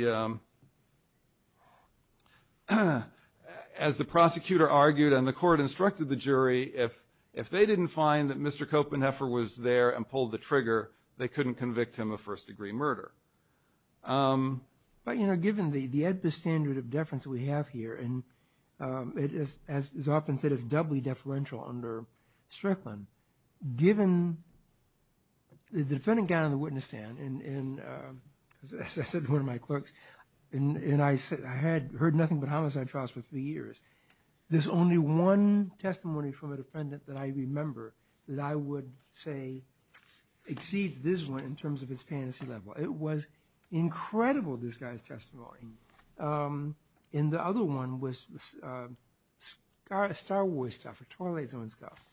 As the prosecutor argued and the court instructed the jury if if they didn't find that mr Copenheffer was there and pulled the trigger they couldn't convict him of first-degree murder But you know given the the edpa standard of deference that we have here and It is as often said it's doubly deferential under Strickland given the defendant down in the witness stand and Said one of my clerks and and I said I had heard nothing but homicide trials for three years There's only one testimony from a defendant that I remember that I would say Exceeds this one in terms of his fantasy level it was Incredible this guy's testimony in the other one was Scar a Star Wars tougher toilets on stuff.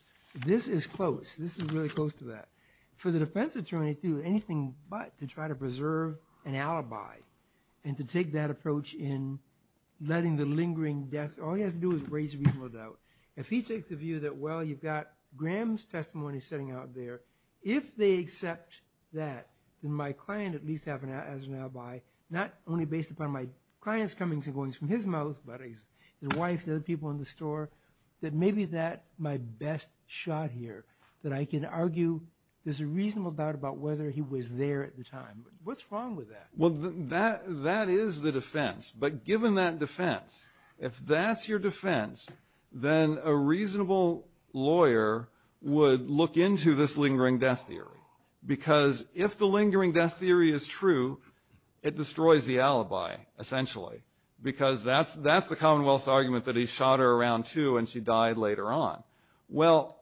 This is close this is really close to that for the defense attorney to anything but to try to preserve an alibi and to take that approach in Letting the lingering death all he has to do is raise a reasonable doubt if he takes a view that well Graham's testimony sitting out there If they accept that then my client at least have an as an alibi Not only based upon my clients coming to going from his mouth But his wife the other people in the store that maybe that's my best shot here that I can argue There's a reasonable doubt about whether he was there at the time. What's wrong with that? Well that that is the defense but given that defense if that's your defense Then a reasonable Lawyer would look into this lingering death theory because if the lingering death theory is true It destroys the alibi Essentially because that's that's the Commonwealth's argument that he shot her around too, and she died later on well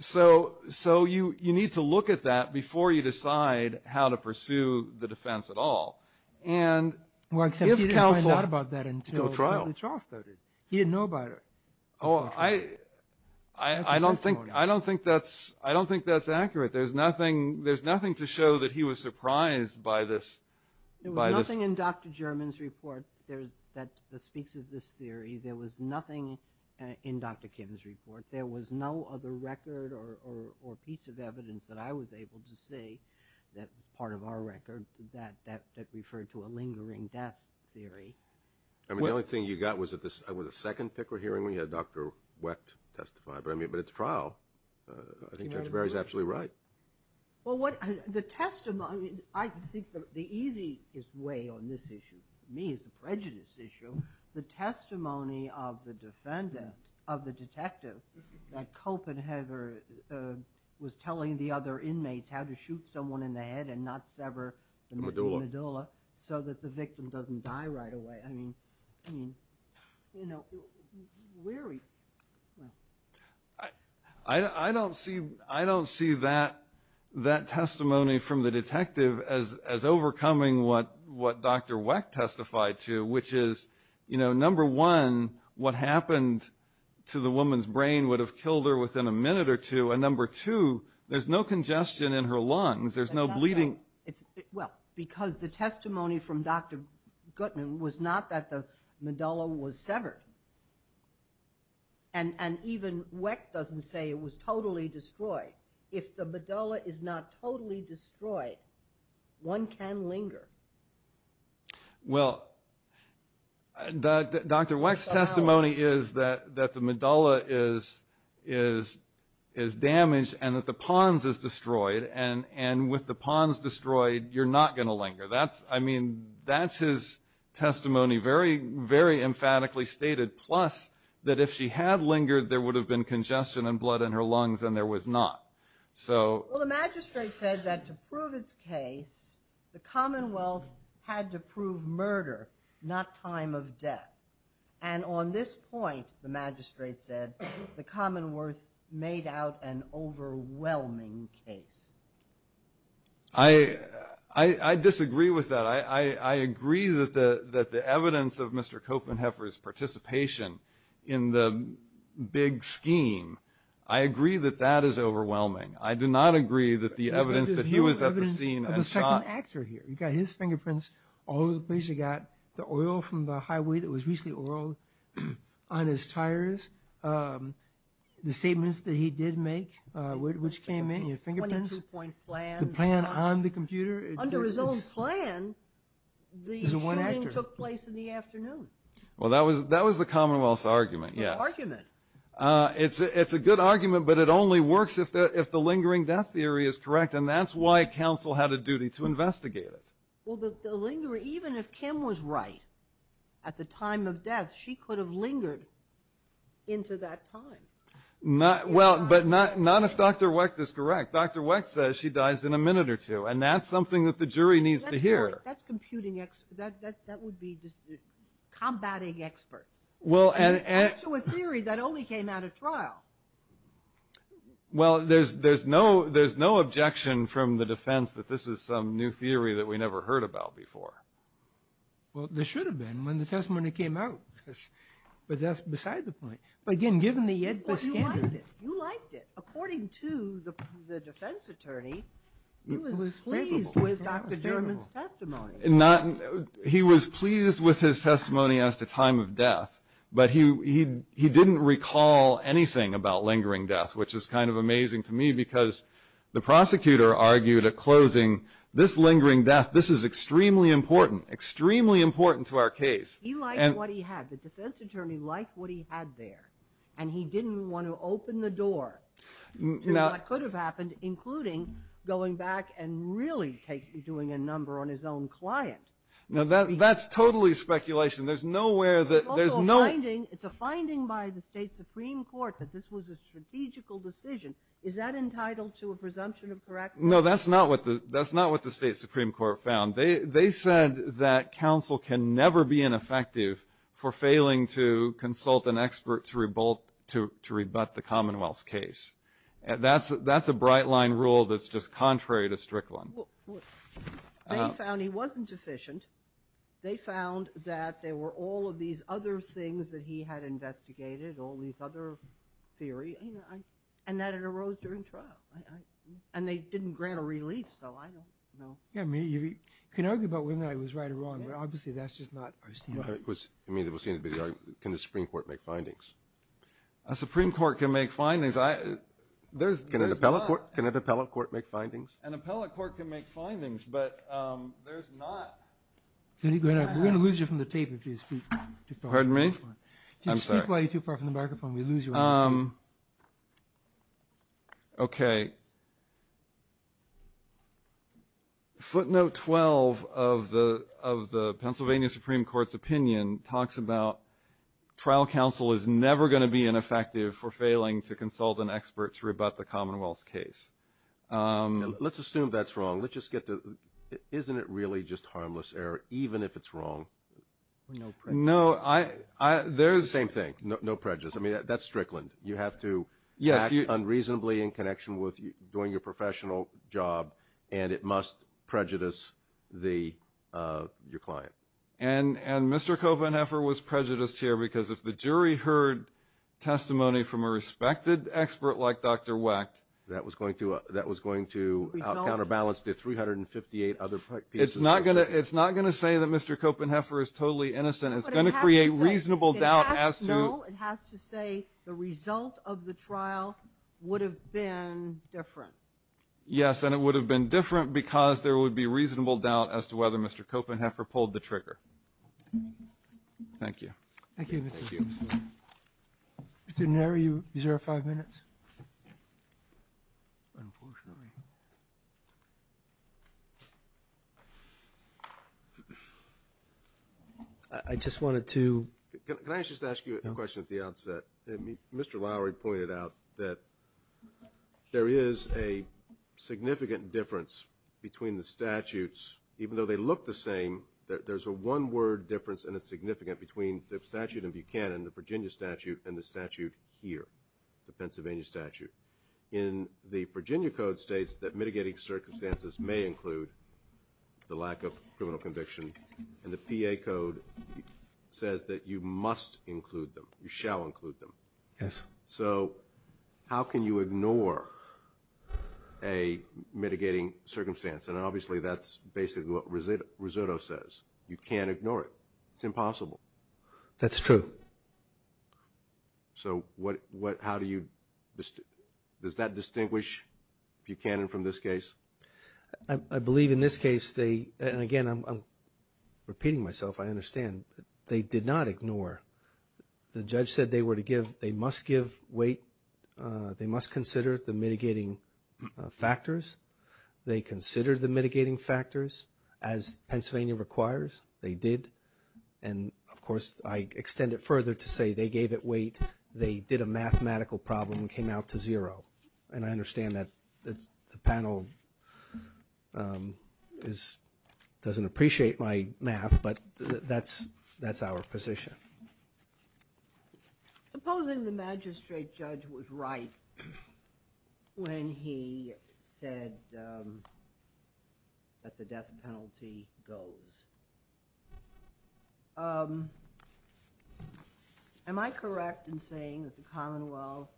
so so you you need to look at that before you decide how to pursue the defense at all and Works out about that until trial he didn't know about it. Oh, I I Don't think I don't think that's I don't think that's accurate. There's nothing. There's nothing to show that he was surprised by this There was nothing in dr. German's report. There's that the speaks of this theory. There was nothing in dr Kim's report there was no other record or Piece of evidence that I was able to see that part of our record that that referred to a lingering death theory I mean the only thing you got was at this I was a second picker hearing when you had dr. Wecht testified, but I mean, but it's trial I Think that's Barry's absolutely, right Well what the testimony I think the easiest way on this issue Me is the prejudice issue the testimony of the defendant of the detective that cope and Heather Was telling the other inmates how to shoot someone in the head and not sever Medulla, so that the victim doesn't die right away. I mean I Don't see I don't see that That testimony from the detective as as overcoming what what dr. Wecht testified to which is you know number one what happened to the woman's brain would have killed her within a minute or Two a number two. There's no congestion in her lungs. There's no bleeding. It's well because the testimony from dr Goodman was not that the medulla was severed and And even Wecht doesn't say it was totally destroyed if the medulla is not totally destroyed one can linger Well Dr. Wecht's testimony is that that the medulla is is Damaged and that the pons is destroyed and and with the pons destroyed you're not going to linger That's I mean, that's his Testimony very very emphatically stated plus that if she had lingered there would have been congestion and blood in her lungs And there was not so The Commonwealth had to prove murder not time of death and This point the magistrate said the Commonwealth made out an overwhelming case I I Disagree with that. I agree that the that the evidence of mr. Copenheffer is participation in the Big scheme. I agree that that is overwhelming. I do not agree that the evidence that he was at the scene Actor here, you got his fingerprints all over the place. You got the oil from the highway that was recently oiled on his tires The statements that he did make which came in your fingerprints point plan the plan on the computer under his own plan These are one actor took place in the afternoon. Well, that was that was the Commonwealth's argument. Yeah argument It's it's a good argument But it only works if the if the lingering death theory is correct and that's why council had a duty to investigate it Well the linger even if Kim was right at the time of death she could have lingered into that time Not well, but not not if dr. Wecht is correct. Dr Wecht says she dies in a minute or two and that's something that the jury needs to hear that's computing X that that would be Combating experts. Well and a theory that only came out of trial Well, there's there's no there's no objection from the defense that this is some new theory that we never heard about before Well, they should have been when the testimony came out But that's beside the point, but again given the yet He was pleased with his testimony as to time of death But he he didn't recall anything about lingering death Which is kind of amazing to me because the prosecutor argued at closing this lingering death This is extremely important extremely important to our case He liked what he had the defense attorney liked what he had there and he didn't want to open the door Now it could have happened including going back and really take doing a number on his own client Now that that's totally speculation, there's nowhere that there's no It's a finding by the state Supreme Court that this was a strategical decision. Is that entitled to a presumption of correct? No, that's not what the that's not what the state Supreme Court found They they said that counsel can never be ineffective for failing to consult an expert to revolt To to rebut the Commonwealth's case and that's that's a bright line rule. That's just contrary to Strickland They found that there were all of these other things that he had investigated all these other Theory, you know, I and that it arose during trial and they didn't grant a relief. So I don't know Yeah, me you can argue about when I was right or wrong, but obviously that's just not I mean it was seen to be the argument. Can the Supreme Court make findings a Supreme Court can make findings. I There's gonna develop work. Can it appellate court make findings an appellate court can make findings, but there's not Any good? I'm gonna lose you from the tape. If you speak to pardon me Okay Footnote 12 of the of the Pennsylvania Supreme Court's opinion talks about Trial counsel is never going to be ineffective for failing to consult an expert to rebut the Commonwealth's case Let's assume that's wrong. Let's just get the isn't it really just harmless error, even if it's wrong No, I I there's same thing. No prejudice. I mean that's Strickland. You have to yes you unreasonably in connection with you doing your professional job, and it must prejudice the Your client and and mr. Copenheffer was prejudiced here because if the jury heard Testimony from a respected expert like dr. Wecht that was going to that was going to counterbalance the 358 other it's not gonna It's not gonna say that mr. Copenheffer is totally innocent. It's gonna create reasonable doubt as to the result of the trial Would have been different. Yes, and it would have been different because there would be reasonable doubt as to whether mr. Copenheffer pulled the trigger Thank you Didn't marry you zero five minutes I Just wanted to ask you a question at the outset. I mean, mr. Lowry pointed out that there is a significant difference between the statutes even though they look the same that there's a one-word difference and it's significant between the Statute of Buchanan the Virginia statute and the statute here the Pennsylvania statute in The Virginia Code states that mitigating circumstances may include the lack of criminal conviction and the PA code Says that you must include them. You shall include them. Yes, so how can you ignore a Mitigating circumstance and obviously that's basically what was it risotto says you can't ignore it. It's impossible That's true So what what how do you just does that distinguish Buchanan from this case I believe in this case they and again, I'm Repeating myself. I understand they did not ignore The judge said they were to give they must give weight They must consider the mitigating factors they consider the mitigating factors as Pennsylvania requires they did and Of course, I extend it further to say they gave it weight They did a mathematical problem and came out to zero and I understand that that's the panel Is doesn't appreciate my math, but that's that's our position Supposing the magistrate judge was right when he said That the death penalty goes Am I correct in saying that the Commonwealth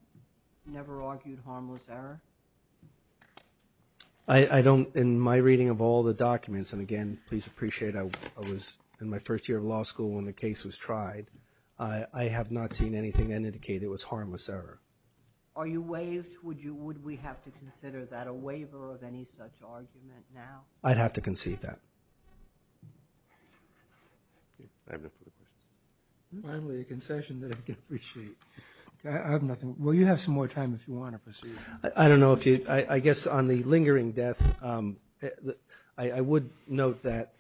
never argued harmless error, I Don't in my reading of all the documents and again, please appreciate I was in my first year of law school when the case was Tried I have not seen anything that indicated was harmless error. Are you waived? Would you would we have to consider that a waiver of any such argument now? I'd have to concede that Finally a concession that I can appreciate I have nothing. Well, you have some more time if you want to proceed. I don't know if you I guess on the lingering death That I would note that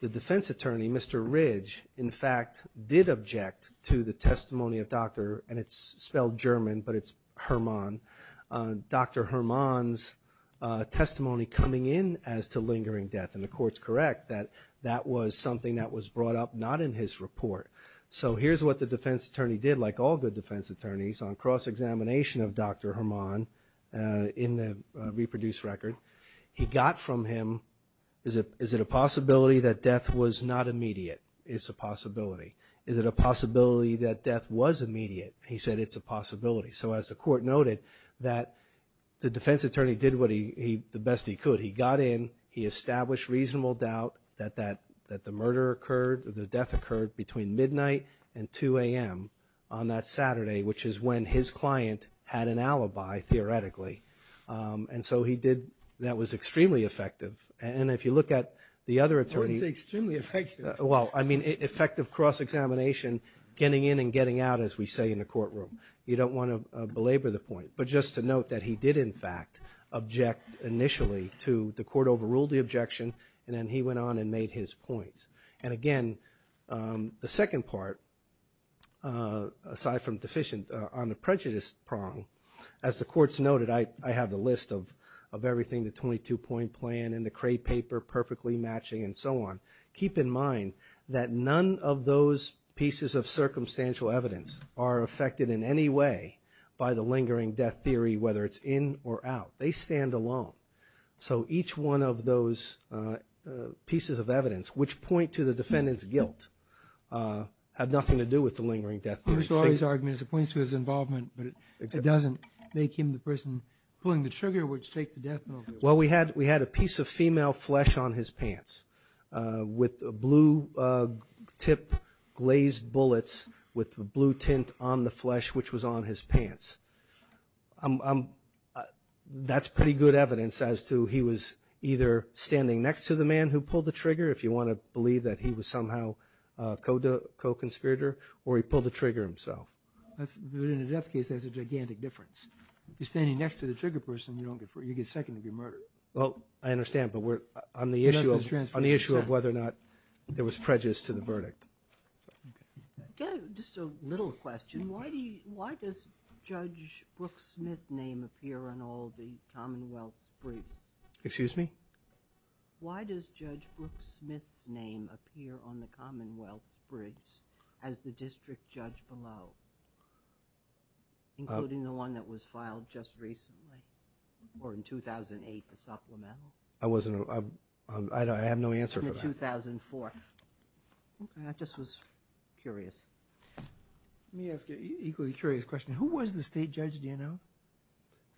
the defense attorney. Mr Ridge in fact did object to the testimony of doctor and it's spelled German, but it's Hermann dr. Hermann's Coming in as to lingering death and the courts correct that that was something that was brought up not in his report So here's what the defense attorney did like all good defense attorneys on cross-examination of dr. Hermann In the reproduced record. He got from him. Is it is it a possibility that death was not immediate? It's a possibility. Is it a possibility that death was immediate? He said it's a possibility So as the court noted that The defense attorney did what he the best he could he got in he established reasonable doubt that that that the murder occurred The death occurred between midnight and 2 a.m. On that Saturday, which is when his client had an alibi Theoretically and so he did that was extremely effective and if you look at the other attorneys extremely effective Well, I mean effective cross-examination Getting in and getting out as we say in the courtroom, you don't want to belabor the point But just to note that he did in fact Object initially to the court overruled the objection and then he went on and made his points and again the second part Aside from deficient on the prejudice prong as the courts noted I have the list of of everything the 22-point plan and the crate paper Perfectly matching and so on keep in mind that none of those pieces of circumstantial evidence are Affected in any way by the lingering death theory whether it's in or out. They stand alone. So each one of those pieces of evidence which point to the defendants guilt Had nothing to do with the lingering death. There's always arguments it points to his involvement But it doesn't make him the person pulling the trigger which take the death. Well, we had we had a piece of female flesh on his pants with a blue Tip glazed bullets with the blue tint on the flesh which was on his pants I'm That's pretty good evidence as to he was either Standing next to the man who pulled the trigger if you want to believe that he was somehow Code to co-conspirator or he pulled the trigger himself That's good in a death case. There's a gigantic difference. You're standing next to the trigger person You get second of your murder Well, I understand but we're on the issue on the issue of whether or not there was prejudice to the verdict Just a little question. Why do you why does judge Brooke Smith name appear on all the Commonwealth briefs? Excuse me Why does judge Smith's name appear on the Commonwealth bridge as the district judge below? Including the one that was filed just recently Or in 2008 the supplemental I wasn't I don't I have no answer for that 2004 That just was curious Let me ask you equally curious question. Who was the state judge? Do you know?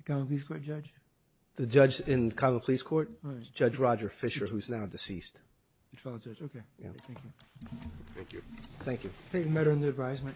Come please court judge the judge in common police court judge Roger Fisher who's now deceased Thank you better in the advisement